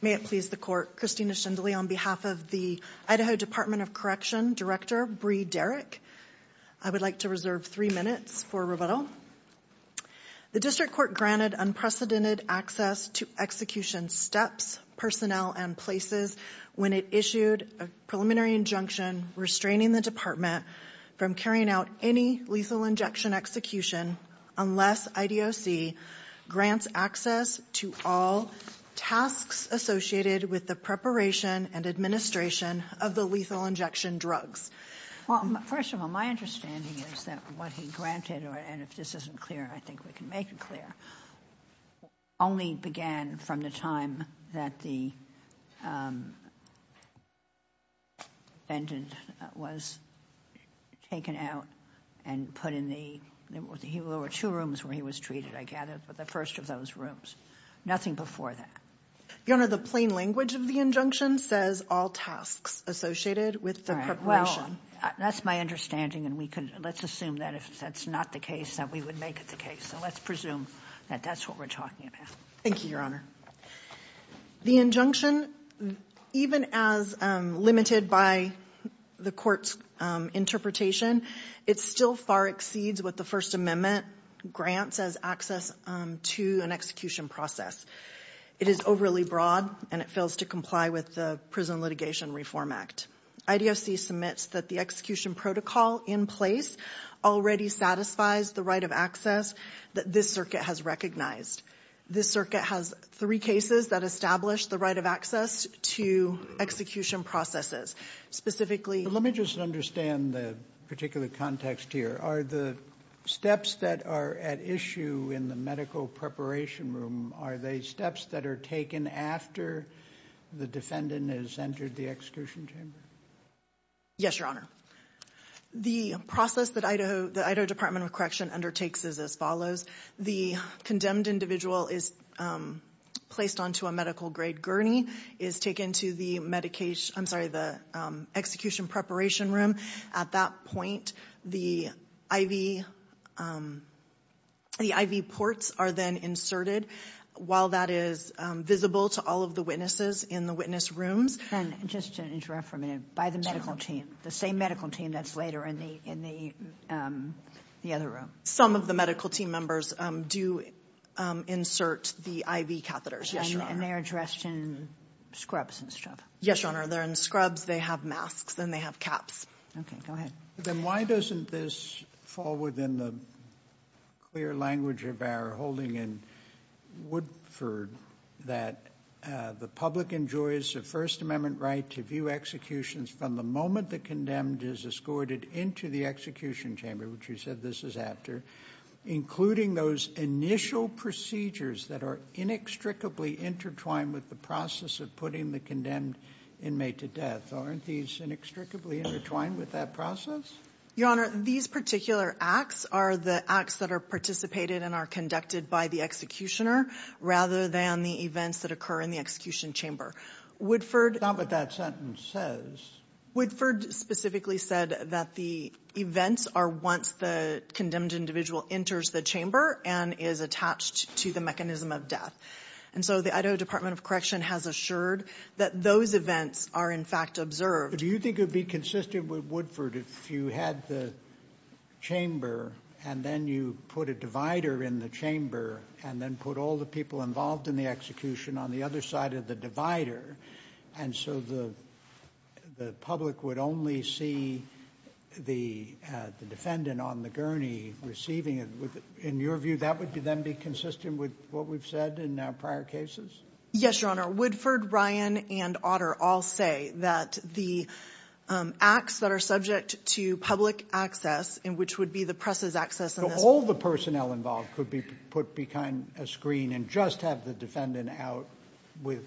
May it please the court. Christina Shindley on behalf of the Idaho Department of Correction, Director Bree Derrick. I would like to reserve three minutes for rebuttal. The district court granted unprecedented access to execution steps, personnel and places when it issued a preliminary injunction restraining the department from carrying out any lethal injection execution unless IDOC grants access to all tasks associated with the preparation and administration of the lethal injection drugs. Well, first of all, my understanding is that what he granted or and if this isn't clear, I think we can make it clear. Only began from the time that the. And it was taken out and put in the two rooms where he was treated, I gathered, but the first of those rooms, nothing before that. You know, the plain language of the injunction says all tasks associated with the well, that's my understanding. And we can let's assume that if that's not the case, that we would make it the case. So let's presume that that's what we're talking about. Thank you, Your Honor. The injunction, even as limited by the court's interpretation, it's still far exceeds what the First Amendment grants as access to an execution process. It is overly broad and it fails to comply with the Prison Litigation Reform Act. IDOC submits that the execution protocol in place already satisfies the right of access that this circuit has recognized. This circuit has three cases that establish the right of access to execution processes, specifically. Let me just understand the particular context here. Are the steps that are at issue in the medical preparation room, are they steps that are taken after the defendant has entered the execution chamber? Yes, Your Honor. The process that Idaho Department of Correction undertakes is as follows. The condemned individual is placed onto a medical grade gurney, is taken to the execution preparation room. At that point, the IV ports are then inserted. While that is visible to all of the witnesses in the witness rooms. And just to interrupt for a minute, by the medical team, the same medical team that's later in the other room. Some of the medical team members do insert the IV catheters, yes, Your Honor. And they are dressed in scrubs and stuff. Yes, Your Honor, they're in scrubs, they have masks, and they have caps. Okay, go ahead. Then why doesn't this fall within the clear language of our holding in Woodford that the public enjoys a First Amendment right to view executions from the moment the condemned is escorted into the execution chamber, which you said this is after. Including those initial procedures that are inextricably intertwined with the process of putting the condemned inmate to death. Aren't these inextricably intertwined with that process? Your Honor, these particular acts are the acts that are participated and are conducted by the executioner, rather than the events that occur in the execution chamber. Woodford- Stop what that sentence says. Woodford specifically said that the events are once the condemned individual enters the chamber and is attached to the mechanism of death. And so the Idaho Department of Correction has assured that those events are in fact observed. Do you think it would be consistent with Woodford if you had the chamber and then you put a divider in the chamber and then put all the people involved in the execution on the other side of the divider? And so the public would only see the defendant on the gurney receiving it. In your view, that would then be consistent with what we've said in our prior cases? Yes, Your Honor. Woodford, Ryan, and Otter all say that the acts that are subject to public access and which would be the press's access in this- All the personnel involved could be put behind a screen and just have the defendant out with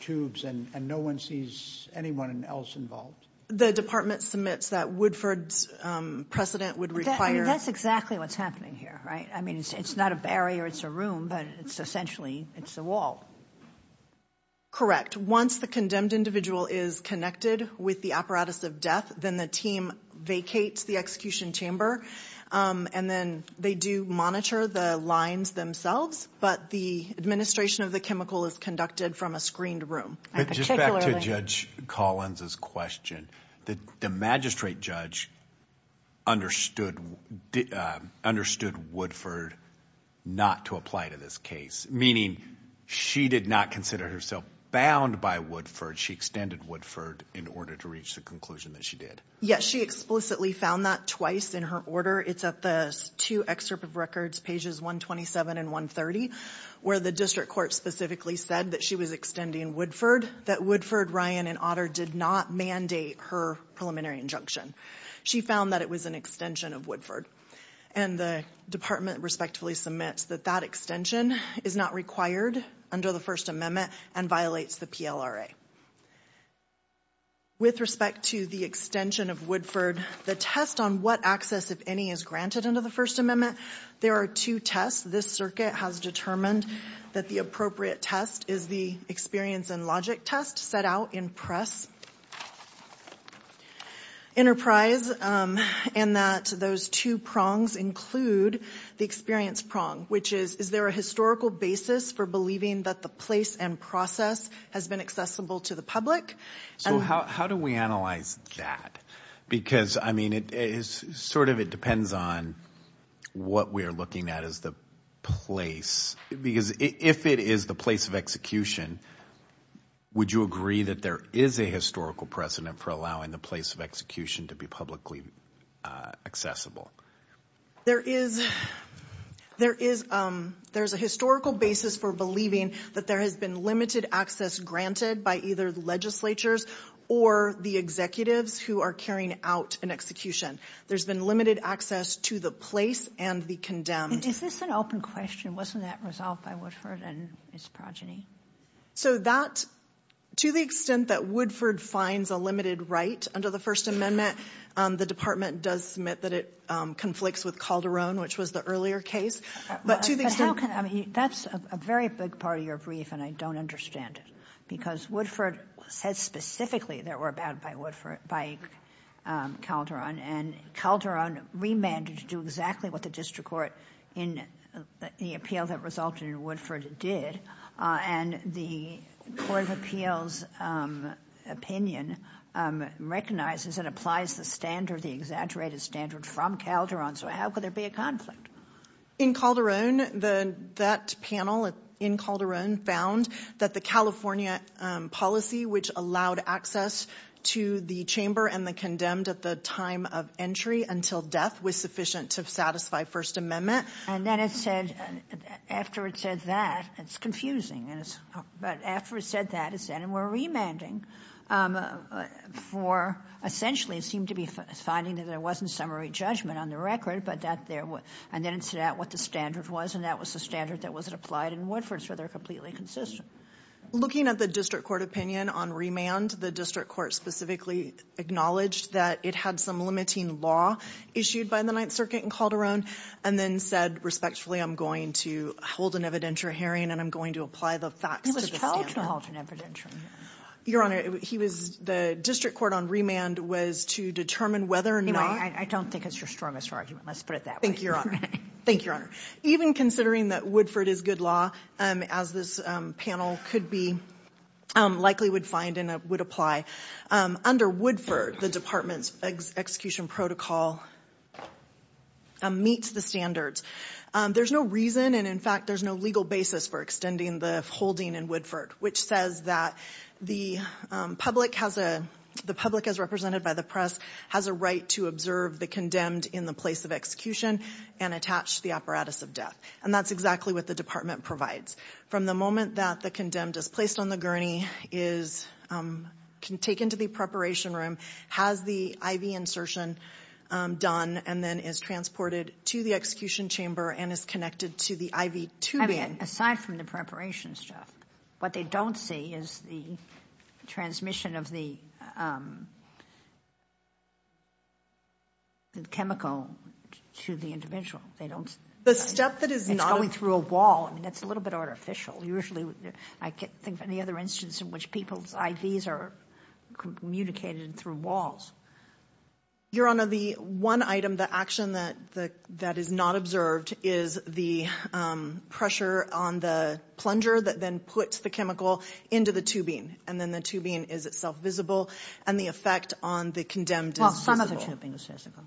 tubes, and no one sees anyone else involved. The department submits that Woodford's precedent would require- That's exactly what's happening here, right? I mean, it's not a barrier, it's a room, but it's essentially, it's a wall. Correct, once the condemned individual is connected with the apparatus of death, then the team vacates the execution chamber, and then they do monitor the lines themselves. But the administration of the chemical is conducted from a screened room. I particularly- Just back to Judge Collins' question. The magistrate judge understood Woodford not to apply to this case. Meaning, she did not consider herself bound by Woodford. She extended Woodford in order to reach the conclusion that she did. Yes, she explicitly found that twice in her order. It's at the two excerpt of records, pages 127 and 130, where the district court specifically said that she was extending Woodford. That Woodford, Ryan, and Otter did not mandate her preliminary injunction. She found that it was an extension of Woodford. And the department respectfully submits that that extension is not required under the First Amendment and violates the PLRA. With respect to the extension of Woodford, the test on what access, if any, is granted under the First Amendment. There are two tests. This circuit has determined that the appropriate test is the experience and logic test set out in Press Enterprise. And that those two prongs include the experience prong, which is, is there a historical basis for believing that the place and process has been accessible to the public? So how do we analyze that? Because, I mean, it is sort of, it depends on what we are looking at as the place. Because if it is the place of execution, would you agree that there is a historical precedent for allowing the place of execution to be publicly accessible? There is a historical basis for believing that there has been limited access granted by either the legislatures or the executives who are carrying out an execution. There's been limited access to the place and the condemned. Is this an open question? Wasn't that resolved by Woodford and his progeny? So that, to the extent that Woodford finds a limited right under the First Amendment, the department does submit that it conflicts with Calderon, which was the earlier case. But to the extent- But how can, I mean, that's a very big part of your brief and I don't understand it. Because Woodford said specifically that we're bound by Calderon. And Calderon remanded to do exactly what the district court in the appeal that resulted in Woodford did. And the Court of Appeals opinion recognizes and applies the standard, the exaggerated standard from Calderon. So how could there be a conflict? In Calderon, that panel in Calderon found that the California policy, which allowed access to the chamber and the condemned at the time of entry until death was sufficient to satisfy First Amendment. And then it said, after it said that, it's confusing. But after it said that, it said, and we're remanding for, essentially, it seemed to be finding that there wasn't summary judgment on the record. And then it said what the standard was, and that was the standard that wasn't applied in Woodford, so they're completely consistent. Looking at the district court opinion on remand, the district court specifically acknowledged that it had some limiting law issued by the Ninth Circuit in Calderon. And then said, respectfully, I'm going to hold an evidentiary hearing, and I'm going to apply the facts to the standard. He was told to hold an evidentiary hearing. Your Honor, he was, the district court on remand was to determine whether or not- Anyway, I don't think it's your strongest argument. Let's put it that way. Thank you, Your Honor. Thank you, Your Honor. Even considering that Woodford is good law, as this panel could be, likely would find and would apply, under Woodford, the department's execution protocol, meets the standards. There's no reason, and in fact, there's no legal basis for extending the holding in Woodford, which says that the public, as represented by the press, has a right to observe the condemned in the place of execution and attach the apparatus of death. And that's exactly what the department provides. From the moment that the condemned is placed on the gurney, is taken to the preparation room, has the IV insertion done, and then is transported to the execution chamber, and is connected to the IV tubing. Aside from the preparation stuff, what they don't see is the transmission of the chemical to the individual. They don't- The step that is not- It's going through a wall, and that's a little bit artificial. Usually, I can't think of any other instance in which people's IVs are communicated through walls. Your Honor, the one item, the action that is not observed, is the pressure on the plunger that then puts the chemical into the tubing. And then the tubing is itself visible, and the effect on the condemned is visible. Well, some of the tubing is visible.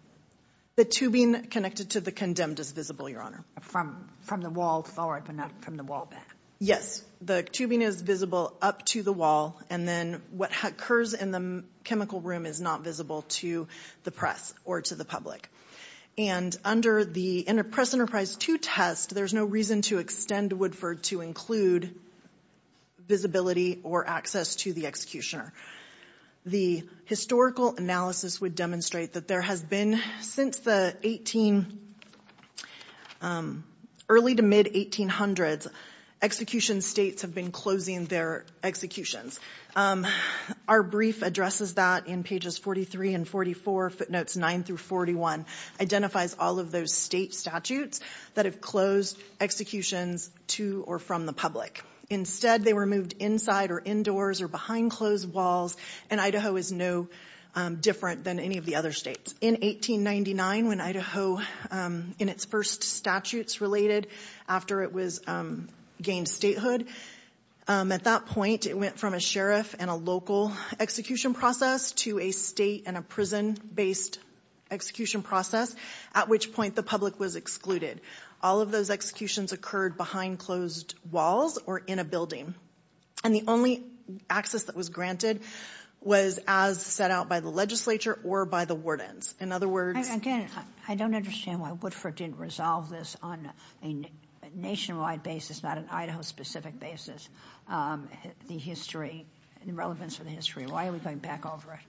The tubing connected to the condemned is visible, Your Honor. From the wall forward, but not from the wall back. Yes. The tubing is visible up to the wall, and then what occurs in the chemical room is not visible to the press or to the public. And under the Press Enterprise 2 test, there's no reason to extend Woodford to include visibility or access to the executioner. The historical analysis would demonstrate that there has been, since the early to mid-1800s, execution states have been closing their executions. Our brief addresses that in pages 43 and 44, footnotes 9 through 41, identifies all of those state statutes that have closed executions to or from the public. Instead, they were moved inside or indoors or behind closed walls, and Idaho is no different than any of the other states. In 1899, when Idaho, in its first statutes related, after it gained statehood, at that point, it went from a sheriff and a local execution process to a state and a prison-based execution process, at which point the public was excluded. All of those executions occurred behind closed walls or in a building. And the only access that was granted was as set out by the legislature or by the wardens. In other words- Again, I don't understand why Woodford didn't resolve this on a nationwide basis, not an Idaho-specific basis, the history, the relevance of the history. Why are we going back over it?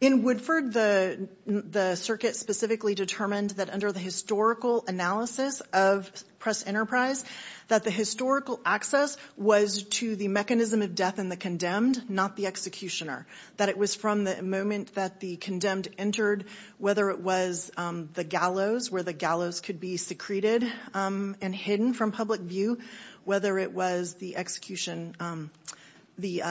In Woodford, the circuit specifically determined that under the historical analysis of press enterprise, that the historical access was to the mechanism of death and the condemned, not the executioner. That it was from the moment that the condemned entered, whether it was the gallows, where the gallows could be secreted and hidden from public view. Whether it was the execution, the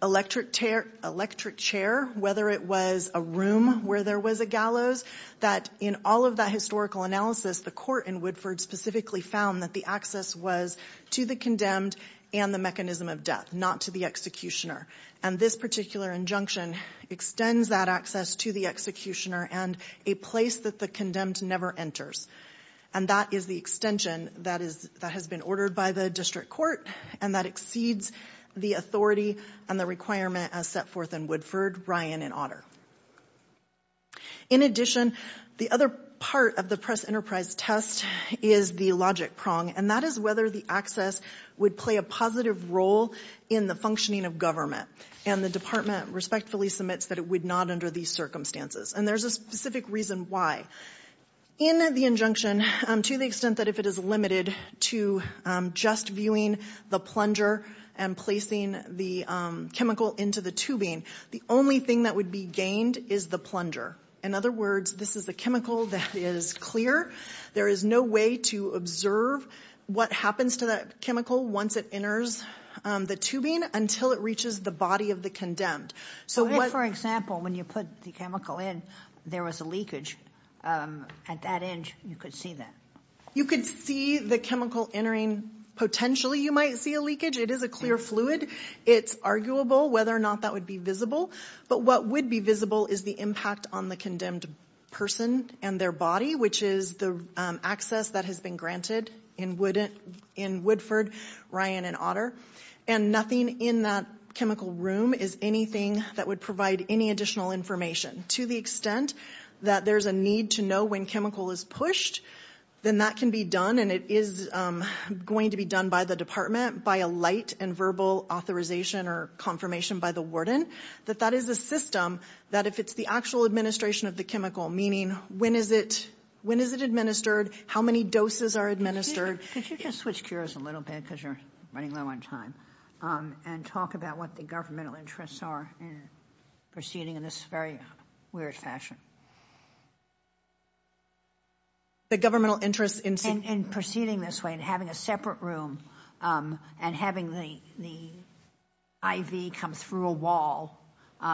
electric chair, whether it was a room where there was a gallows, that in all of that historical analysis, the court in Woodford specifically found that the access was to the condemned and the mechanism of death, not to the executioner. And this particular injunction extends that access to the executioner and a place that the condemned never enters. And that is the extension that has been ordered by the district court and that exceeds the authority and the requirement as set forth in Woodford, Ryan, and Otter. In addition, the other part of the press enterprise test is the logic prong. And that is whether the access would play a positive role in the functioning of government. And the department respectfully submits that it would not under these circumstances. And there's a specific reason why. In the injunction, to the extent that if it is limited to just viewing the plunger and placing the chemical into the tubing, the only thing that would be gained is the plunger. In other words, this is a chemical that is clear. There is no way to observe what happens to that chemical once it enters the tubing until it reaches the body of the condemned. So what- For example, when you put the chemical in, there was a leakage at that edge, you could see that. You could see the chemical entering. Potentially, you might see a leakage. It is a clear fluid. It's arguable whether or not that would be visible. But what would be visible is the impact on the condemned person and their body, which is the access that has been granted in Woodford, Ryan, and Otter. And nothing in that chemical room is anything that would provide any additional information. To the extent that there's a need to know when chemical is pushed, then that can be done. And it is going to be done by the department, by a light and verbal authorization or confirmation by the warden. That that is a system that if it's the actual administration of the chemical, meaning when is it administered? How many doses are administered? Could you just switch gears a little bit, because you're running low on time, and talk about what the governmental interests are in proceeding in this very weird fashion? The governmental interest in- In proceeding this way and having a separate room and having the IV come through a wall,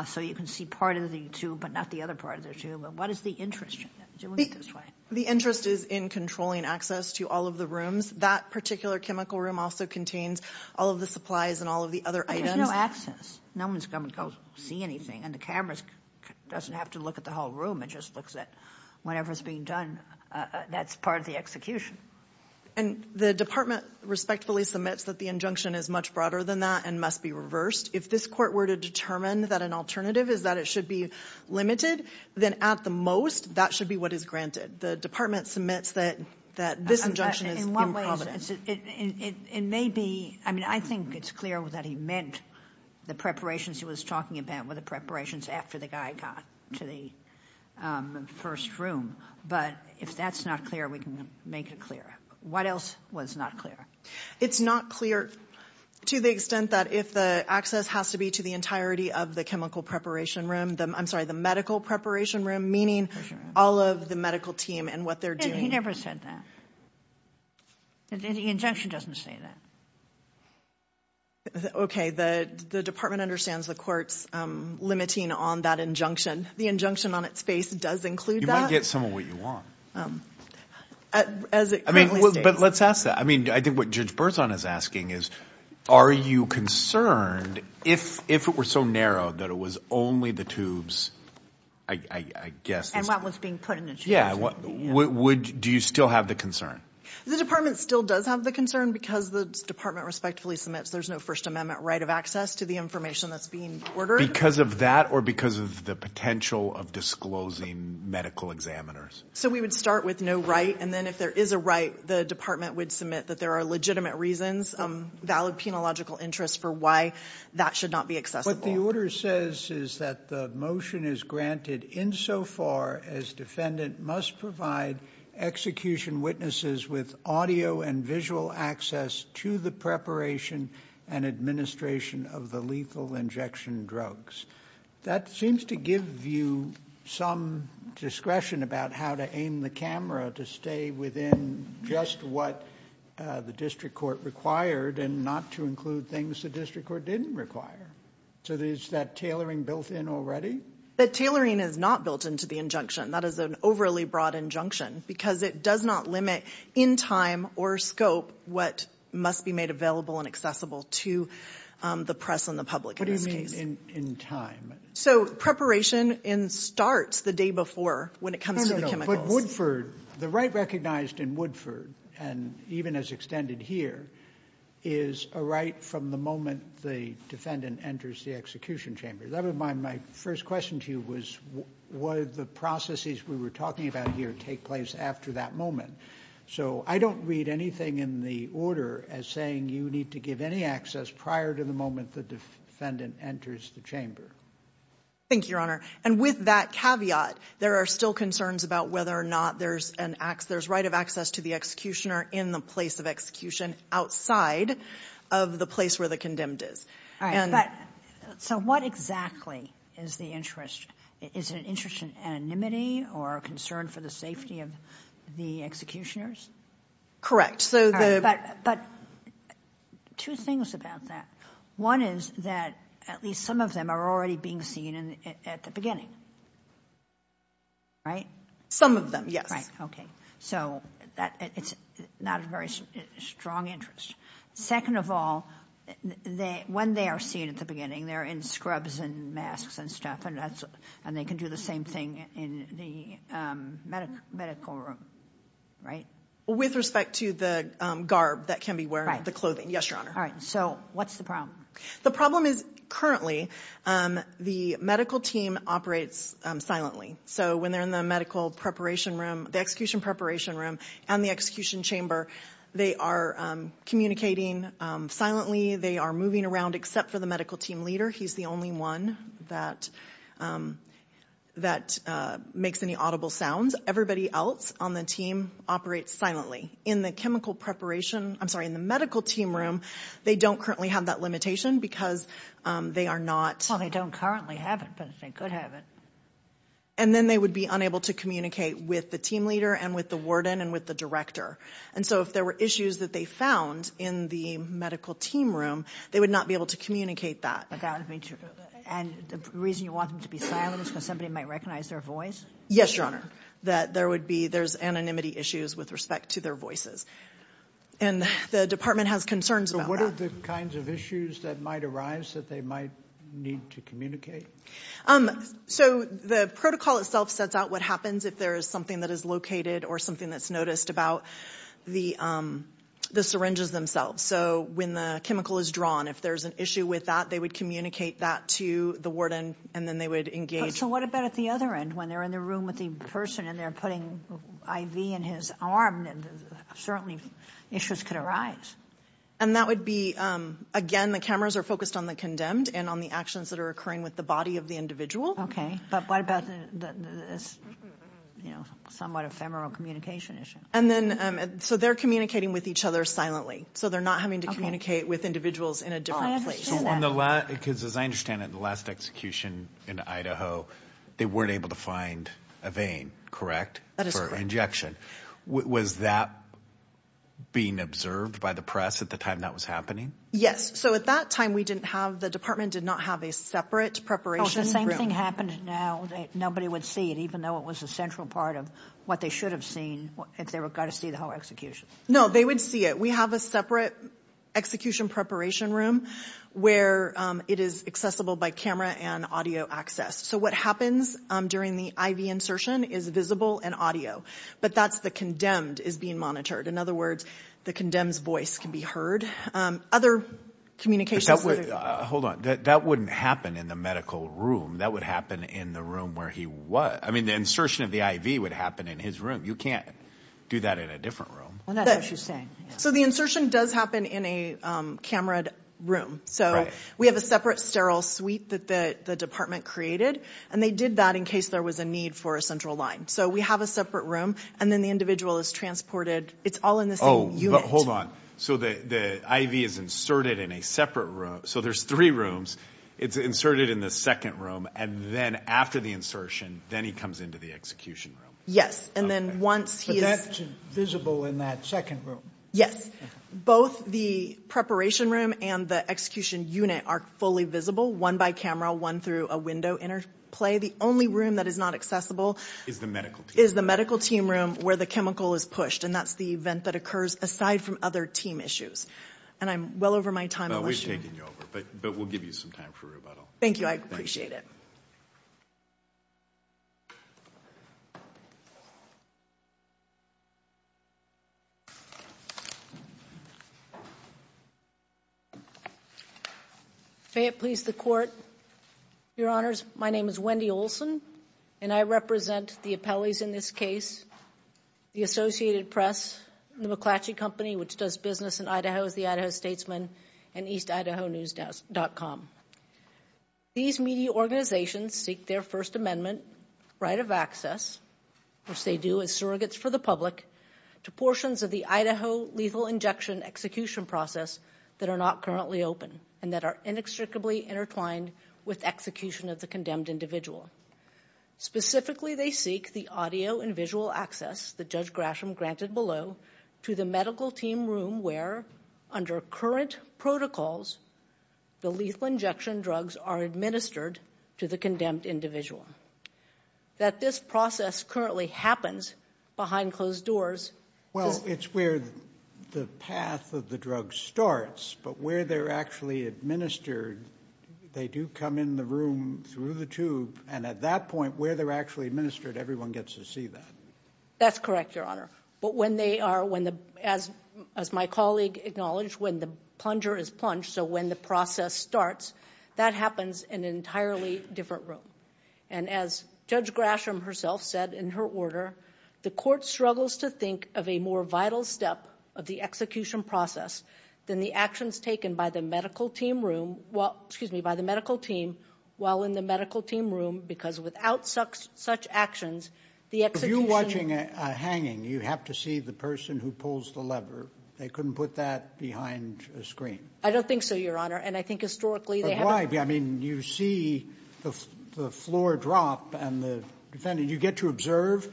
so you can see part of the tube, but not the other part of the tube. And what is the interest in doing it this way? The interest is in controlling access to all of the rooms. That particular chemical room also contains all of the supplies and all of the other items. There's no access. No one's going to go see anything. And the cameras doesn't have to look at the whole room. It just looks at whatever's being done. That's part of the execution. And the department respectfully submits that the injunction is much broader than that and must be reversed. If this court were to determine that an alternative is that it should be limited, then at the most, that should be what is granted. The department submits that this injunction is incompetent. In what ways, it may be, I mean, I think it's clear that he meant the preparations he was talking about were the preparations after the guy got to the first room. But if that's not clear, we can make it clearer. What else was not clear? It's not clear to the extent that if the access has to be to the entirety of the chemical preparation room, I'm sorry, the medical preparation room, meaning all of the medical team and what they're doing. He never said that. The injunction doesn't say that. OK, the department understands the court's limiting on that injunction. The injunction on its face does include that. You might get some of what you want. As it currently states. But let's ask that. I mean, I think what Judge Berzon is asking is, are you concerned if it were so narrowed that it was only the tubes, I guess. And what was being put in the tubes. Yeah. Do you still have the concern? The department still does have the concern because the department respectfully submits there's no First Amendment right of access to the information that's being ordered. Because of that or because of the potential of disclosing medical examiners? So we would start with no right. And then if there is a right, the department would submit that there are legitimate reasons, valid penological interest for why that should not be accessible. What the order says is that the motion is granted insofar as defendant must provide execution witnesses with audio and visual access to the preparation and administration of the lethal injection drugs. That seems to give you some discretion about how to aim the camera to stay within just what the district court required and not to include things the district court didn't require. So is that tailoring built in already? The tailoring is not built into the injunction. That is an overly broad injunction because it does not limit in time or scope what must be made available and accessible to the press and the public. What do you mean in time? So preparation in starts the day before when it comes to the chemicals. No, no, no, but Woodford, the right recognized in Woodford and even as extended here is a right from the moment the defendant enters the execution chamber. That was my first question to you was what are the processes we were talking about here take place after that moment? So I don't read anything in the order as saying you need to give any access prior to the moment the defendant enters the chamber. Thank you, Your Honor. And with that caveat, there are still concerns about whether or not there's an ax. There's right of access to the executioner in the place of execution outside of the place where the condemned is. All right, but so what exactly is the interest? Is it an interest in anonymity or a concern for the safety of the executioners? Correct, so the- But two things about that. One is that at least some of them are already being seen at the beginning, right? Some of them, yes. Right, okay. So it's not a very strong interest. Second of all, when they are seen at the beginning, they're in scrubs and masks and stuff, and they can do the same thing in the medical room, right? With respect to the garb that can be worn, the clothing. Yes, Your Honor. All right, so what's the problem? The problem is currently the medical team operates silently. So when they're in the medical preparation room, the execution preparation room and the execution chamber, they are communicating silently. They are moving around except for the medical team leader. He's the only one that makes any audible sounds. Everybody else on the team operates silently. In the chemical preparation, I'm sorry, in the medical team room, they don't currently have that limitation because they are not- Well, they don't currently have it, but they could have it. And then they would be unable to communicate with the team leader and with the warden and with the director. And so if there were issues that they found in the medical team room, they would not be able to communicate that. And the reason you want them to be silent is because somebody might recognize their voice? Yes, Your Honor. That there would be, there's anonymity issues with respect to their voices. And the department has concerns about that. So what are the kinds of issues that might arise that they might need to communicate? So the protocol itself sets out what happens if there is something that is located or something that's noticed about the syringes themselves. So when the chemical is drawn, if there's an issue with that, they would communicate that to the warden and then they would engage- So what about at the other end, when they're in the room with the person and they're putting IV in his arm, certainly issues could arise. And that would be, again, the cameras are focused on the condemned and on the actions that are occurring with the body of the individual. Okay, but what about the somewhat ephemeral communication issue? And then, so they're communicating with each other silently. So they're not having to communicate with individuals in a different place. So on the last, because as I understand it, the last execution in Idaho, they weren't able to find a vein, correct? That is correct. For injection. Was that being observed by the press at the time that was happening? So at that time, we didn't have, the department did not have a separate preparation room. Oh, so the same thing happened now that nobody would see it, even though it was a central part of what they should have seen if they were going to see the whole execution. No, they would see it. We have a separate execution preparation room where it is accessible by camera and audio access. So what happens during the IV insertion is visible and audio. But that's the condemned is being monitored. In other words, the condemned's voice can be heard. Other communications. But that would, hold on, that wouldn't happen in the medical room. That would happen in the room where he was. I mean, the insertion of the IV would happen in his room. You can't do that in a different room. Well, that's what she's saying. So the insertion does happen in a camera room. So we have a separate sterile suite that the department created, and they did that in case there was a need for a central line. So we have a separate room and then the individual is transported. It's all in this. Oh, hold on. So the IV is inserted in a separate room. So there's three rooms. It's inserted in the second room. And then after the insertion, then he comes into the execution room. Yes. And then once he is visible in that second room. Yes. Both the preparation room and the execution unit are fully visible, one by camera, one through a window interplay. The only room that is not accessible is the medical is the medical team room where the chemical is pushed. And that's the event that occurs aside from other team issues. And I'm well over my time. Well, we've taken you over, but we'll give you some time for rebuttal. Thank you. I appreciate it. Fayette, please, the court, your honors. My name is Wendy Olson, and I represent the appellees in this case, the Associated Press, the McClatchy Company, which does business in Idaho, is the Idaho statesman and East Idaho news does dot com. These media organizations seek their First Amendment right of access, which they do as surrogates for the public to portions of the Idaho lethal injection execution process that are not currently open and that are inextricably intertwined with execution of the condemned individual. Specifically, they seek the audio and visual access that Judge Grasham granted below to the medical team room where, under current protocols, the lethal injection drugs are administered to the condemned individual. That this process currently happens behind closed doors. Well, it's where the path of the drug starts, but where they're actually administered, they do come in the room through the tube. And at that point where they're actually administered, everyone gets to see that. That's correct, your honor. But when they are, when the as as my colleague acknowledged, when the plunger is plunged. So when the process starts, that happens in an entirely different room. And as Judge Grasham herself said in her order, the court struggles to think of a more vital step of the execution process than the actions taken by the medical team room. Well, excuse me, by the medical team while in the medical team room, because without such such actions, the execution watching hanging, you have to see the person who pulls the lever. They couldn't put that behind a screen. I don't think so, your honor. And I think historically, I mean, you see the floor drop and the defendant, you get to observe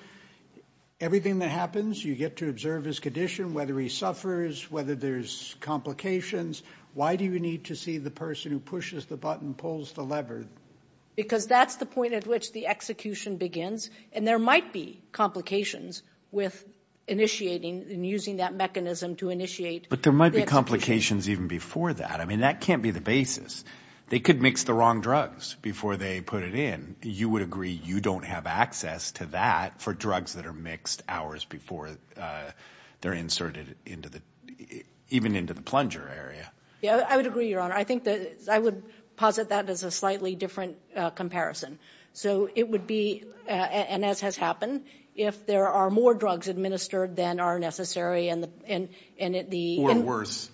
everything that happens. You get to observe his condition, whether he suffers, whether there's complications. Why do you need to see the person who pushes the button, pulls the lever? Because that's the point at which the execution begins. And there might be complications with initiating and using that mechanism to initiate. But there might be complications even before that. I mean, that can't be the basis. They could mix the wrong drugs before they put it in. You would agree you don't have access to that for drugs that are mixed hours before they're inserted into the even into the plunger area. Yeah, I would agree, your honor. I think that I would posit that as a slightly different comparison. So it would be, and as has happened, if there are more drugs administered than are necessary. Or worse,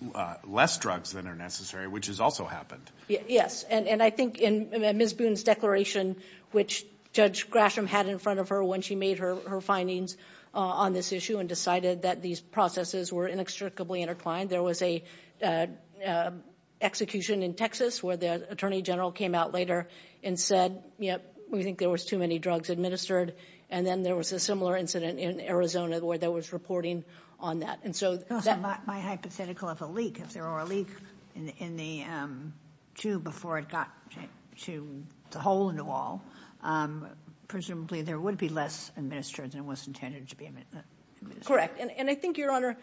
less drugs than are necessary, which has also happened. Yes. And I think in Ms. Boone's declaration, which Judge Grasham had in front of her when she made her findings on this issue and decided that these processes were inextricably intertwined. There was a execution in Texas where the attorney general came out later and said, yep, we think there was too many drugs administered. And then there was a similar incident in Arizona where there was reporting on that. And so my hypothetical of a leak, if there were a leak in the tube before it got to the hole in the wall, presumably there would be less administered than was intended to be. Correct. And I think, your honor,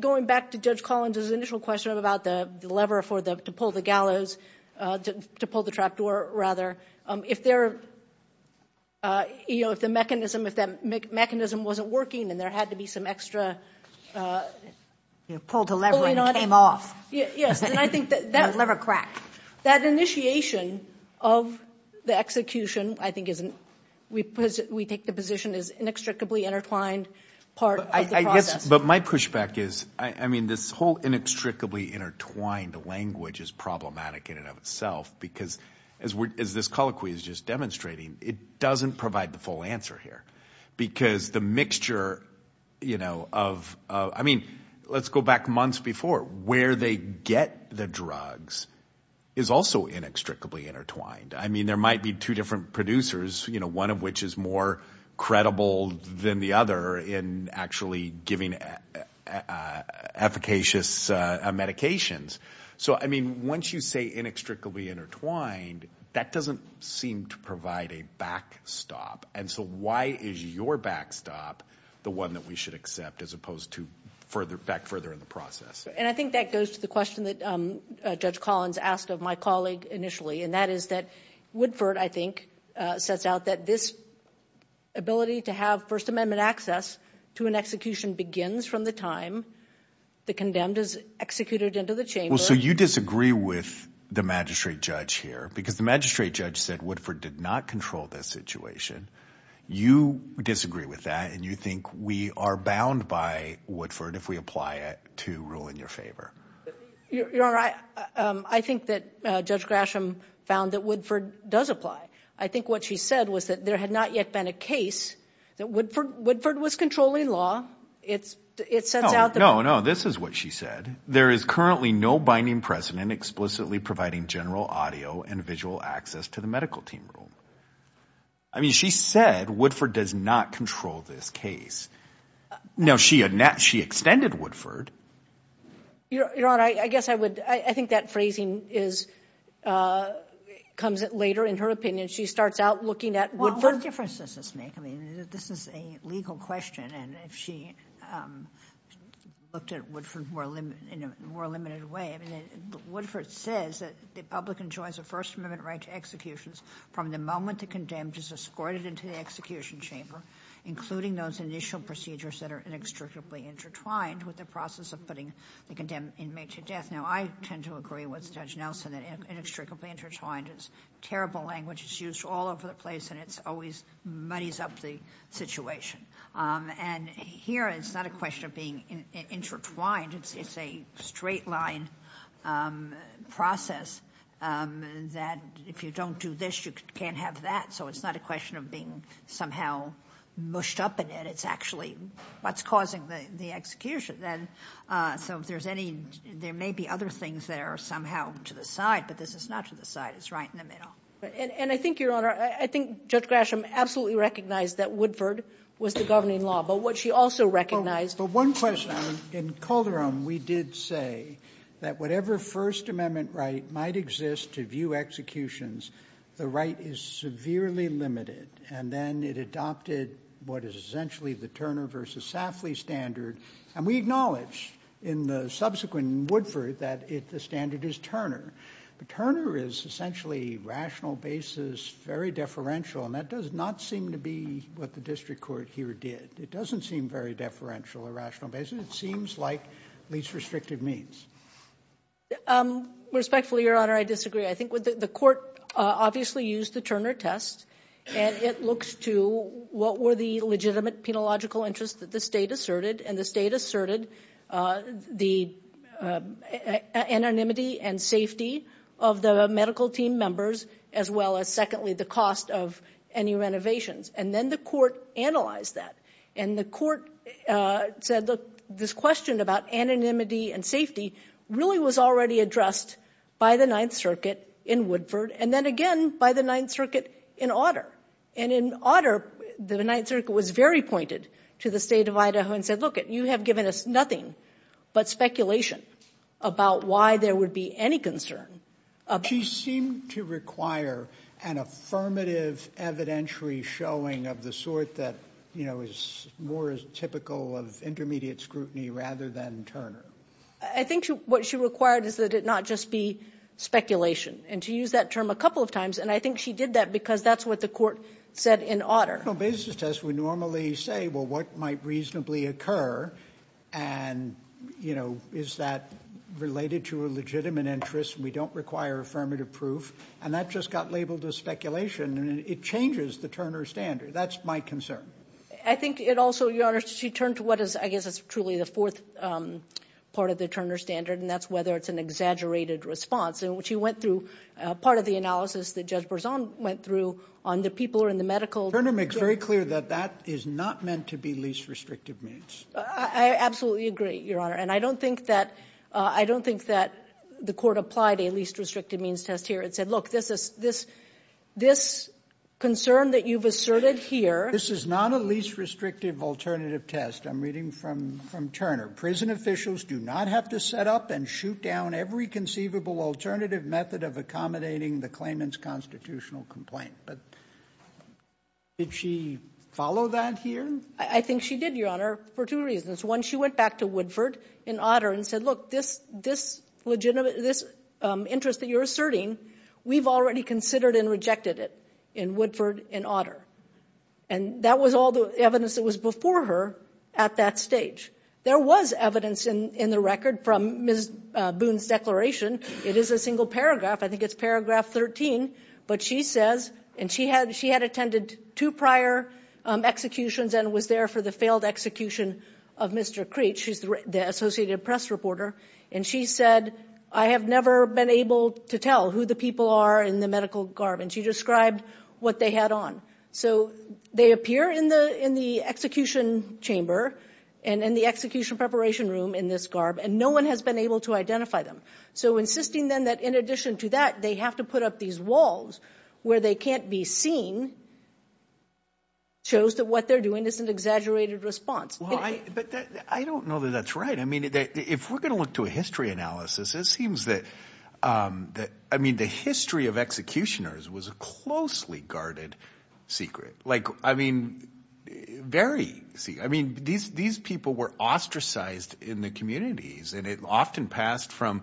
going back to Judge Collins's initial question about the lever for the to pull the gallows, to pull the trapdoor, rather. If there, you know, if the mechanism, if that mechanism wasn't working and there had to be some extra, you know, pull the lever and it came off. Yes. And I think that lever cracked. That initiation of the execution, I think, isn't, we take the position is inextricably intertwined part of the process. But my pushback is, I mean, this whole inextricably intertwined language is problematic in and of itself, because as this colloquy is just demonstrating, it doesn't provide the full answer here. Because the mixture, you know, of I mean, let's go back months before where they get the drugs is also inextricably intertwined. I mean, there might be two different producers, you know, one of which is more credible than the other in actually giving efficacious medications. So, I mean, once you say inextricably intertwined, that doesn't seem to provide a backstop. And so why is your backstop the one that we should accept as opposed to further back further in the process? And I think that goes to the question that Judge Collins asked of my colleague initially. And that is that Woodford, I think, sets out that this ability to have First Amendment access to an execution begins from the time the condemned is executed into the chamber. Well, so you disagree with the magistrate judge here because the magistrate judge said Woodford did not control this situation. You disagree with that and you think we are bound by Woodford if we apply it to rule in your favor. I think that Judge Grasham found that Woodford does apply. I think what she said was that there had not yet been a case that Woodford was controlling law. It's it sets out. No, no. This is what she said. There is currently no binding precedent explicitly providing general audio and visual access to the medical team room. I mean, she said Woodford does not control this case. Now, she had not she extended Woodford. Your Honor, I guess I would I think that phrasing is comes later in her opinion. She starts out looking at Woodford. What difference does this make? I mean, this is a legal question. And if she looked at Woodford in a more limited way, I mean, Woodford says that the public enjoys a First Amendment right to executions from the moment the condemned is escorted into the execution chamber, including those initial procedures that are inextricably intertwined with the process of putting the condemned inmate to death. Now, I tend to agree with Judge Nelson that inextricably intertwined is terrible language. It's used all over the place and it's always muddies up the situation. And here it's not a question of being intertwined. It's a straight line process that if you don't do this, you can't have that. So it's not a question of being somehow mushed up in it. It's actually what's causing the execution. Then so if there's any there may be other things that are somehow to the side, but this is not to the side. It's right in the middle. And I think, Your Honor, I think Judge Grasham absolutely recognized that Woodford was the governing law. But what she also recognized. But one question in Calderon, we did say that whatever First Amendment right might exist to view executions, the right is severely limited. And then it adopted what is essentially the Turner versus Safley standard. And we acknowledge in the subsequent Woodford that the standard is Turner. But Turner is essentially rational basis, very deferential. And that does not seem to be what the district court here did. It doesn't seem very deferential or rational basis. It seems like least restrictive means. Respectfully, Your Honor, I disagree. I think the court obviously used the Turner test and it looks to what were the legitimate penological interests that the state asserted and the state asserted the anonymity and safety of the medical team members, as well as secondly, the cost of any renovations. And then the court analyzed that and the court said that this question about anonymity and safety really was already addressed by the Ninth Circuit in Woodford and then again by the Ninth Circuit in Otter. And in Otter, the Ninth Circuit was very pointed to the state of Idaho and said, look, you have given us nothing but speculation about why there would be any concern. She seemed to require an affirmative evidentiary showing of the sort that, you know, is more typical of intermediate scrutiny rather than Turner. I think what she required is that it not just be speculation and to use that term a couple of times. And I think she did that because that's what the court said in Otter. A rational basis test would normally say, well, what might reasonably occur? And, you know, is that related to a legitimate interest? We don't require affirmative proof. And that just got labeled as speculation. And it changes the Turner standard. That's my concern. I think it also, Your Honor, she turned to what is, I guess it's truly the fourth part of the Turner standard, and that's whether it's an exaggerated response. And what she went through, part of the analysis that Judge Berzon went through on the people who are in the medical. Turner makes very clear that that is not meant to be least restrictive means. I absolutely agree, Your Honor. And I don't think that I don't think that the court applied a least restrictive means test here. It said, look, this is this this concern that you've asserted here. This is not a least restrictive alternative test. I'm reading from from Turner. Prison officials do not have to set up and shoot down every conceivable alternative method of accommodating the claimant's constitutional complaint. But did she follow that here? I think she did, Your Honor, for two reasons. One, she went back to Woodford and Otter and said, look, this this legitimate this interest that you're asserting, we've already considered and rejected it in Woodford and Otter. And that was all the evidence that was before her at that stage. There was evidence in the record from Ms. Boone's declaration. It is a single paragraph. I think it's paragraph 13. But she says and she had she had attended two prior executions and was there for the failed execution of Mr. Creech, who's the Associated Press reporter. And she said, I have never been able to tell who the people are in the medical garb. And she described what they had on. So they appear in the in the execution chamber and in the execution preparation room in this garb, and no one has been able to identify them. So insisting then that in addition to that, they have to put up these walls where they can't be seen. Shows that what they're doing is an exaggerated response. But I don't know that that's right. I mean, if we're going to look to a history analysis, it seems that that I mean, the history of executioners was closely guarded. Secret, like, I mean, very see. I mean, these these people were ostracized in the communities and it often passed from,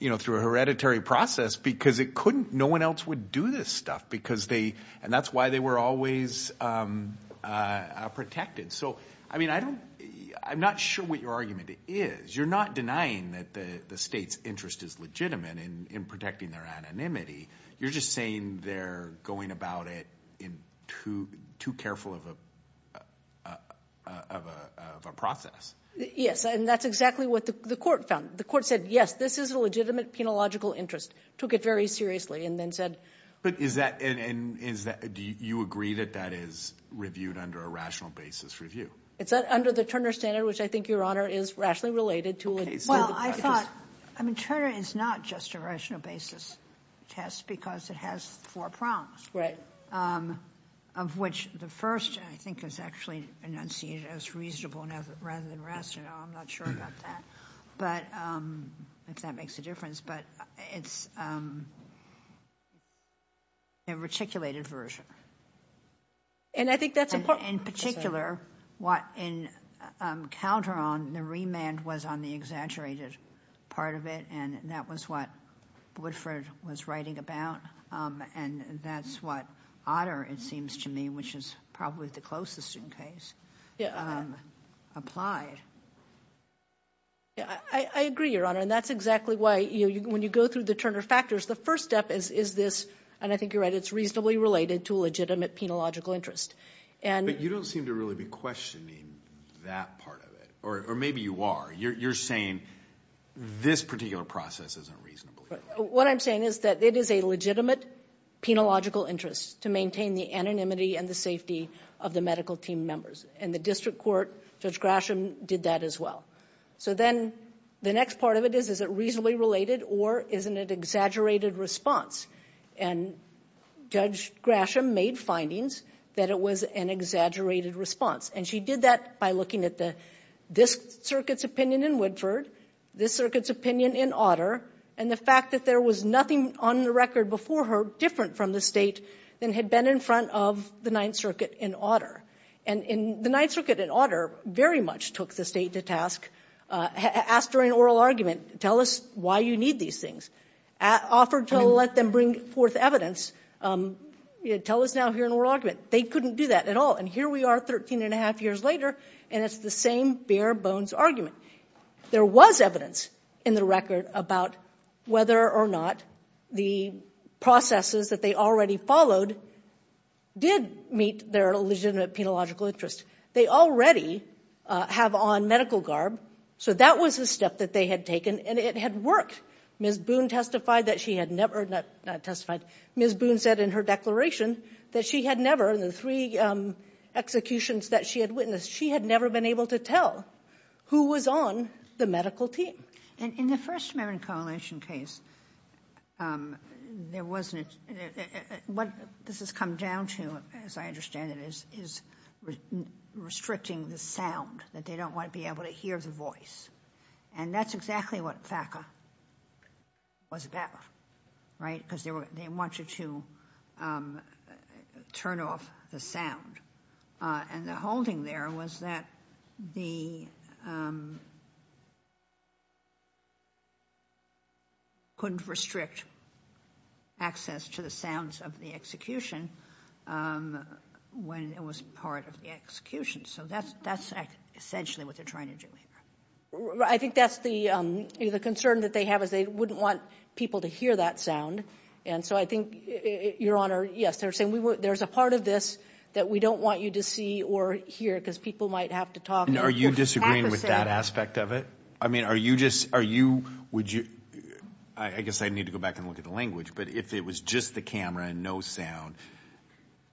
you know, through a hereditary process because it couldn't no one else would do this stuff because they and that's why they were always protected. So, I mean, I don't I'm not sure what your argument is. You're not denying that the state's interest is legitimate in protecting their anonymity. You're just saying they're going about it in two too careful of a of a of a process. And that's exactly what the court found. The court said, yes, this is a legitimate, penological interest, took it very seriously and then said. But is that and is that do you agree that that is reviewed under a rational basis review? It's under the Turner standard, which I think your honor is rationally related to. Well, I thought I mean, Turner is not just a rational basis test because it has four prongs. Right. Of which the first, I think, is actually an unseated as reasonable and rather than rational. I'm not sure about that, but if that makes a difference. But it's. A reticulated version. And I think that's in particular what in counter on the remand was on the exaggerated part of it. And that was what Woodford was writing about. And that's what Otter, it seems to me, which is probably the closest in case applied. Yeah, I agree, your honor, and that's exactly why when you go through the Turner factors, the first step is this. And I think you're right, it's reasonably related to legitimate, penological interest. And you don't seem to really be questioning that part of it, or maybe you are. You're saying this particular process isn't reasonable. What I'm saying is that it is a legitimate, penological interest to maintain the anonymity and the safety of the medical team members. And the district court, Judge Grasham, did that as well. So then the next part of it is, is it reasonably related or isn't it exaggerated response? And Judge Grasham made findings that it was an exaggerated response. And she did that by looking at this circuit's opinion in Woodford, this circuit's opinion in Otter, and the fact that there was nothing on the record before her different from the state than had been in front of the Ninth Circuit in Otter. And the Ninth Circuit in Otter very much took the state to task, asked her in oral argument, tell us why you need these things. Offered to let them bring forth evidence, tell us now here in oral argument. They couldn't do that at all. And here we are 13 and a half years later, and it's the same bare bones argument. There was evidence in the record about whether or not the processes that they already followed did meet their legitimate, penological interest. They already have on medical garb. So that was a step that they had taken, and it had worked. Ms. Boone testified that she had never, not testified, Ms. Boone said in her declaration that she had never, in the three executions that she had witnessed, she had never been able to tell who was on the medical team. And in the First Amendment Coalition case, there wasn't, what this has come down to, as I understand it, is restricting the sound, that they don't want to be able to hear the voice. And that's exactly what FACA was about, right? Because they wanted to turn off the sound. And the holding there was that they couldn't restrict access to the sounds of the execution when it was part of the execution. So that's essentially what they're trying to do here. I think that's the concern that they have, is they wouldn't want people to hear that sound. And so I think, Your Honor, yes, they're saying there's a part of this that we don't want you to see or hear because people might have to talk. And are you disagreeing with that aspect of it? I mean, are you just, are you, would you, I guess I need to go back and look at the language. But if it was just the camera and no sound,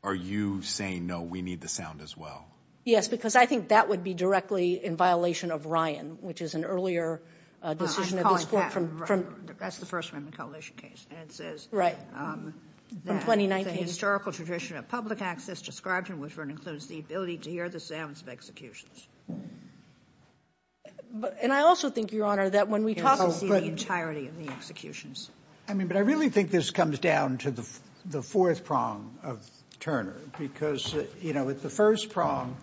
are you saying, no, we need the sound as well? Yes, because I think that would be directly in violation of Ryan, which is an earlier decision of this Court from. I'm calling that, that's the First Amendment Coalition case, and it says that the historical tradition of public access described in Woodford includes the ability to hear the sounds of executions. But and I also think, Your Honor, that when we talk about the entirety of the executions. I mean, but I really think this comes down to the fourth prong of Turner, because, you know, with the first prong,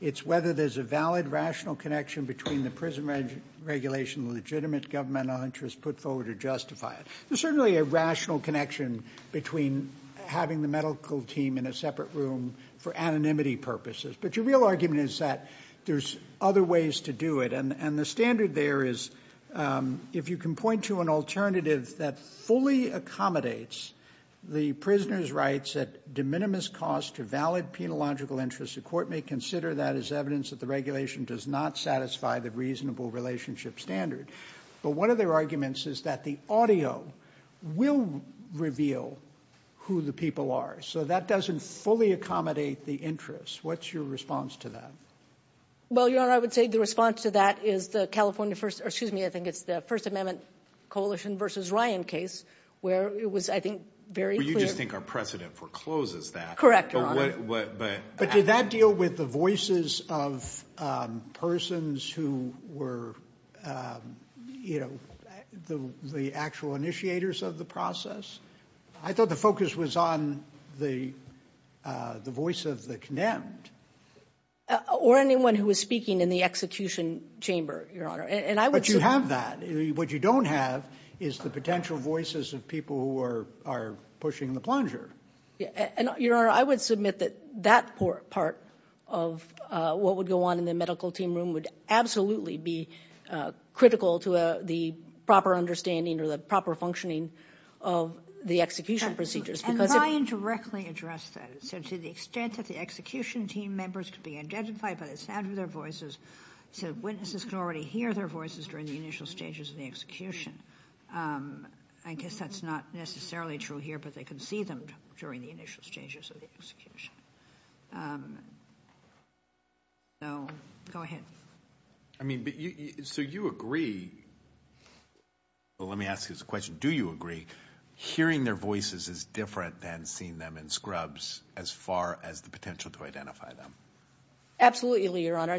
it's whether there's a valid, rational connection between the prison regulation, legitimate governmental interest put forward to justify it. There's certainly a rational connection between having the medical team in a separate room for anonymity purposes. But your real argument is that there's other ways to do it. And the standard there is, if you can point to an alternative that fully accommodates the prisoner's rights at de minimis cost to valid penological interests, the court may consider that as evidence that the regulation does not satisfy the reasonable relationship standard. But one of their arguments is that the audio will reveal who the people are. So that doesn't fully accommodate the interest. What's your response to that? Well, Your Honor, I would say the response to that is the California First, or excuse me, I think it's the First Amendment Coalition versus Ryan case, where it was, I think, very clear. But you just think our precedent forecloses that. Correct, Your Honor. But did that deal with the voices of persons who were the actual initiators of the process? I thought the focus was on the voice of the condemned. Or anyone who was speaking in the execution chamber, Your Honor. But you have that. What you don't have is the potential voices of people who are pushing the plunger. And Your Honor, I would submit that that part of what would go on in the medical team room would absolutely be critical to the proper understanding or the proper functioning of the execution procedures. And Ryan directly addressed that. So to the extent that the execution team members could be identified by the sound of their voices, so witnesses could already hear their voices during the initial stages of the execution. I guess that's not necessarily true here, but they could see them during the initial stages of the execution. So, go ahead. I mean, so you agree, well, let me ask you this question. Do you agree hearing their voices is different than seeing them in scrubs as far as the potential to identify them? Absolutely, Your Honor.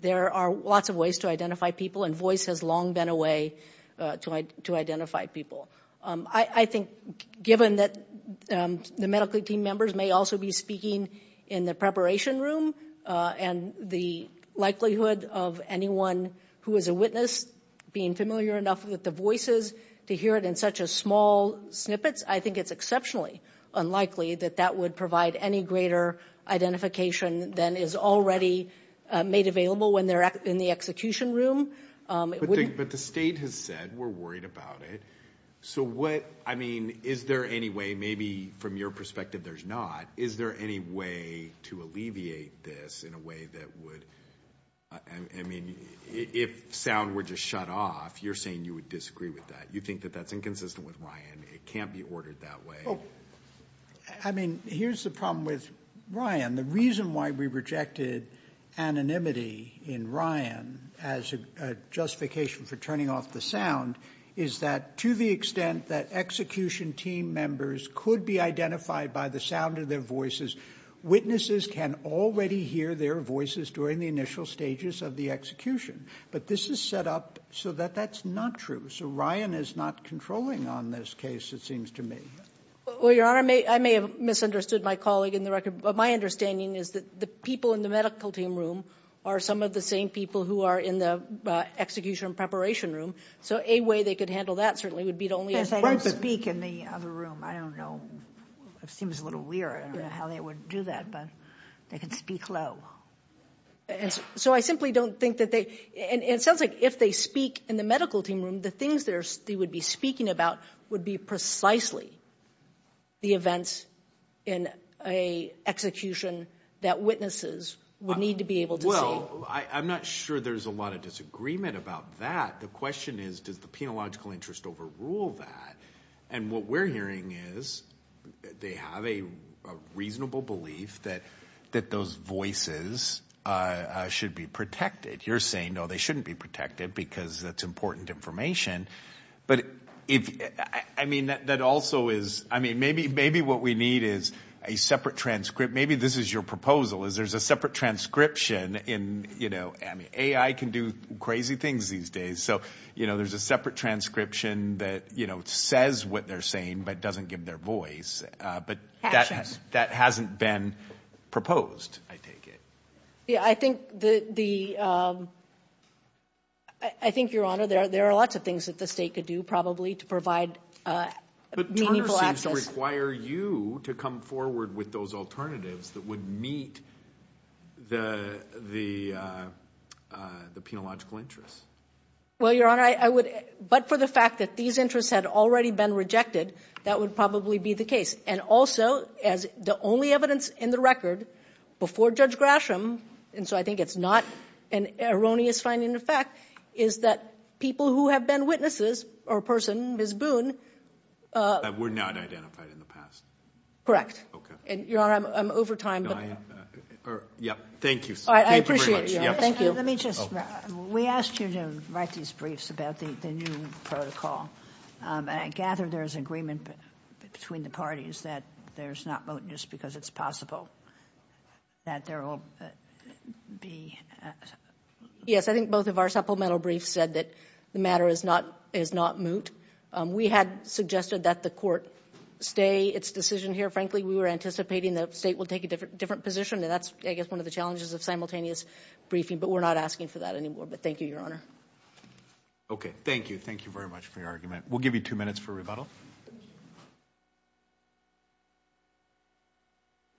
There are lots of ways to identify people and voice has long been a way to identify people. I think given that the medical team members may also be speaking in the preparation room and the likelihood of anyone who is a witness being familiar enough with the voices to hear it in such a small snippets, I think it's exceptionally unlikely that that would provide any greater identification than is already made available when they're in the execution room. But the state has said we're worried about it. So what, I mean, is there any way, maybe from your perspective there's not, is there any way to alleviate this in a way that would, I mean, if sound were just shut off, you're saying you would disagree with that. You think that that's inconsistent with Ryan. It can't be ordered that way. I mean, here's the problem with Ryan. The reason why we rejected anonymity in Ryan as a justification for turning off the sound is that to the extent that execution team members could be identified by the sound of their voices, witnesses can already hear their voices during the initial stages of the execution. But this is set up so that that's not true. So Ryan is not controlling on this case, it seems to me. Well, your honor, I may have misunderstood my colleague in the record. But my understanding is that the people in the medical team room are some of the same people who are in the execution preparation room. So a way they could handle that certainly would be to only- They can't speak in the other room. I don't know, it seems a little weird, I don't know how they would do that, but they could speak low. So I simply don't think that they, and it sounds like if they speak in the medical team room, the things they would be speaking about would be precisely the events in a execution that witnesses would need to be able to see. Well, I'm not sure there's a lot of disagreement about that. The question is, does the penological interest overrule that? And what we're hearing is that they have a reasonable belief that those voices should be protected. You're saying, no, they shouldn't be protected because that's important information. But if, I mean, that also is, I mean, maybe what we need is a separate transcript. Maybe this is your proposal, is there's a separate transcription in, I mean, AI can do crazy things these days. So, you know, there's a separate transcription that, you know, says what they're saying, but doesn't give their voice. But that hasn't been proposed, I take it. Yeah, I think the, I think, Your Honor, there are lots of things that the state could do, probably, to provide meaningful access. Require you to come forward with those alternatives that would meet the, the, the penological interests. Well, Your Honor, I would, but for the fact that these interests had already been rejected, that would probably be the case. And also, as the only evidence in the record before Judge Grasham, and so I think it's not an erroneous finding in fact, is that people who have been witnesses, or a person, Ms. Boone. That were not identified in the past. Okay. And, Your Honor, I'm over time, but. Can I, or, yep, thank you. All right, I appreciate it, Your Honor, thank you. Let me just, we asked you to write these briefs about the new protocol. And I gather there's agreement between the parties that there's not mootness because it's possible that there will be. Yes, I think both of our supplemental briefs said that the matter is not, is not moot. We had suggested that the court stay its decision here. Frankly, we were anticipating that the state would take a different, different position. And that's, I guess, one of the challenges of simultaneous briefing. But we're not asking for that anymore. But thank you, Your Honor. Okay, thank you. Thank you very much for your argument. We'll give you two minutes for rebuttal.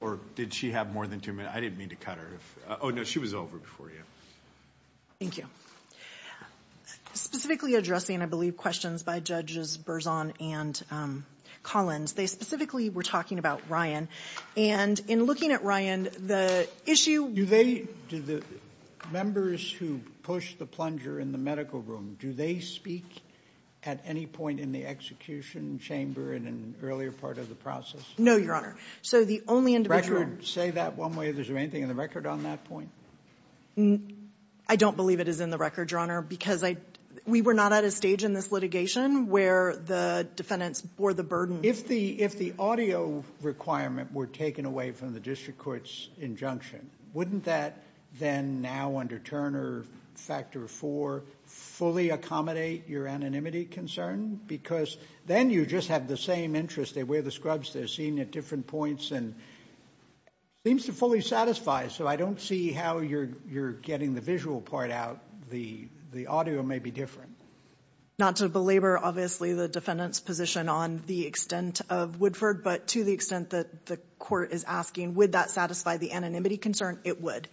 Or did she have more than two minutes? I didn't mean to cut her. Oh, no, she was over before you. Thank you. Specifically addressing, I believe, questions by Judges Berzon and Collins. They specifically were talking about Ryan. And in looking at Ryan, the issue- Do they, do the members who push the plunger in the medical room, do they speak at any point in the execution chamber in an earlier part of the process? No, Your Honor. So the only individual- Say that one way if there's anything in the record on that point. No, I don't believe it is in the record, Your Honor, because we were not at a stage in this litigation where the defendants bore the burden. If the audio requirement were taken away from the district court's injunction, wouldn't that then now under Turner Factor 4 fully accommodate your anonymity concern? Because then you just have the same interest. They wear the scrubs. They're seen at different points. And it seems to fully satisfy. So I don't see how you're getting the visual part out. The audio may be different. Not to belabor, obviously, the defendant's position on the extent of Woodford, but to the extent that the court is asking, would that satisfy the anonymity concern? It would.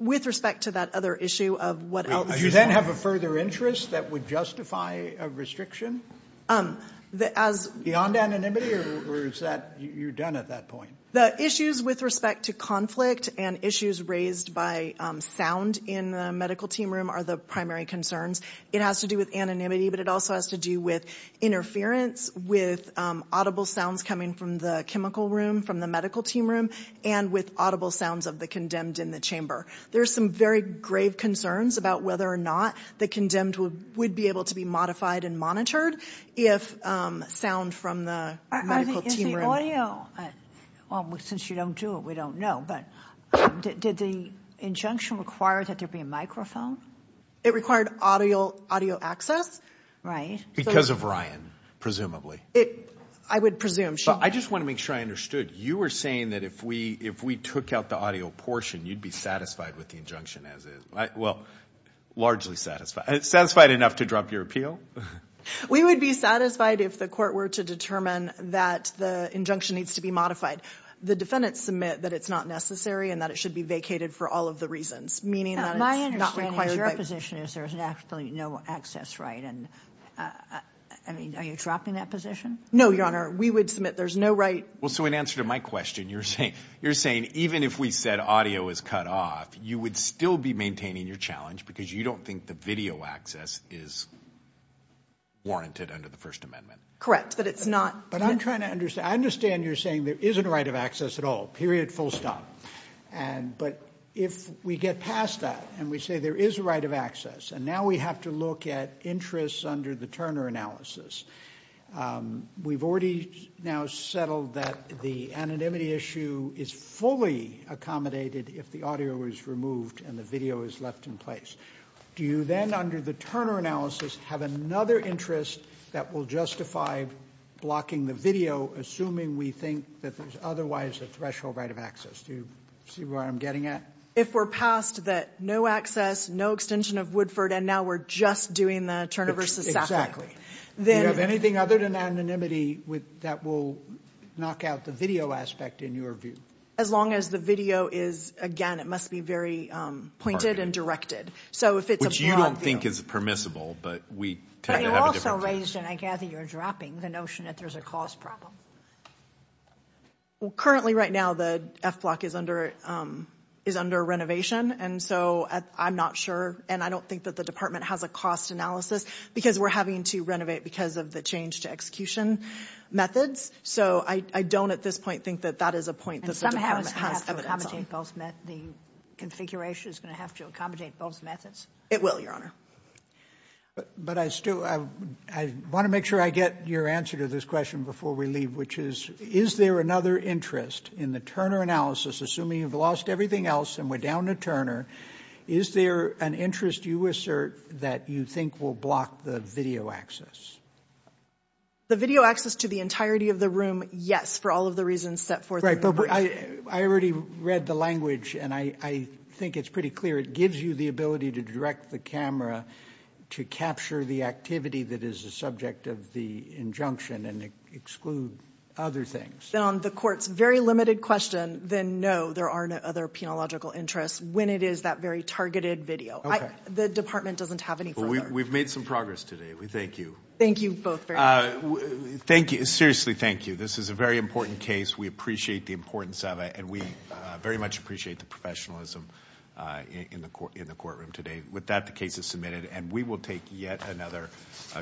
With respect to that other issue of what- Do you then have a further interest that would justify a restriction? Beyond anonymity? Or is that, you're done at that point? The issues with respect to conflict and issues raised by sound in the medical team room are the primary concerns. It has to do with anonymity, but it also has to do with interference, with audible sounds coming from the chemical room, from the medical team room, and with audible sounds of the condemned in the chamber. There are some very grave concerns about whether or not the condemned would be able to be modified and monitored if sound from the medical team room- Since you don't do it, we don't know. But did the injunction require that there be a microphone? It required audio access, right? Because of Ryan, presumably. I would presume so. I just want to make sure I understood. You were saying that if we took out the audio portion, you'd be satisfied with the injunction as is. Well, largely satisfied. Satisfied enough to drop your appeal? We would be satisfied if the court were to determine that the injunction needs to be modified. The defendants submit that it's not necessary and that it should be vacated for all of the reasons, meaning that it's not required- My understanding of your position is there's absolutely no access right. And, I mean, are you dropping that position? No, Your Honor. We would submit there's no right- Well, so in answer to my question, you're saying even if we said audio is cut off, you would still be maintaining your challenge because you don't think the video access is warranted under the First Amendment? Correct, but it's not- But I'm trying to understand. I understand you're saying there isn't a right of access at all, period, full stop. But if we get past that and we say there is a right of access, and now we have to look at interests under the Turner analysis, we've already now settled that the anonymity issue is fully accommodated if the audio is removed and the video is left in place. Do you then, under the Turner analysis, have another interest that will justify blocking the video, assuming we think that there's otherwise a threshold right of access? Do you see where I'm getting at? If we're past that no access, no extension of Woodford, and now we're just doing the Turner v. Sackler- Then- Do you have anything other than anonymity that will knock out the video aspect in your view? As long as the video is, again, it must be very pointed and directed. So if it's a broad view- Which you don't think is permissible, but we tend to have a different view. And I gather you're dropping the notion that there's a cost problem. Well, currently, right now, the F block is under renovation, and so I'm not sure, and I don't think that the department has a cost analysis because we're having to renovate because of the change to execution methods. So I don't, at this point, think that that is a point that the department has evidence on. The configuration is going to have to accommodate both methods? It will, Your Honor. But I still, I want to make sure I get your answer to this question before we leave, which is, is there another interest in the Turner analysis, assuming you've lost everything else and we're down to Turner, is there an interest you assert that you think will block the video access? The video access to the entirety of the room, yes, for all of the reasons set forth- Right, but I already read the language, and I think it's pretty clear. It gives you the ability to direct the camera to capture the activity that is the subject of the injunction and exclude other things. Then on the court's very limited question, then no, there are no other penological interests when it is that very targeted video. The department doesn't have any further- We've made some progress today. We thank you. Thank you both very much. Seriously, thank you. This is a very important case. We appreciate the importance of it, and we very much appreciate the professionalism in the courtroom today. With that, the case is submitted, and we will take yet another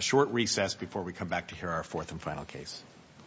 short recess before we come back to hear our fourth and final case.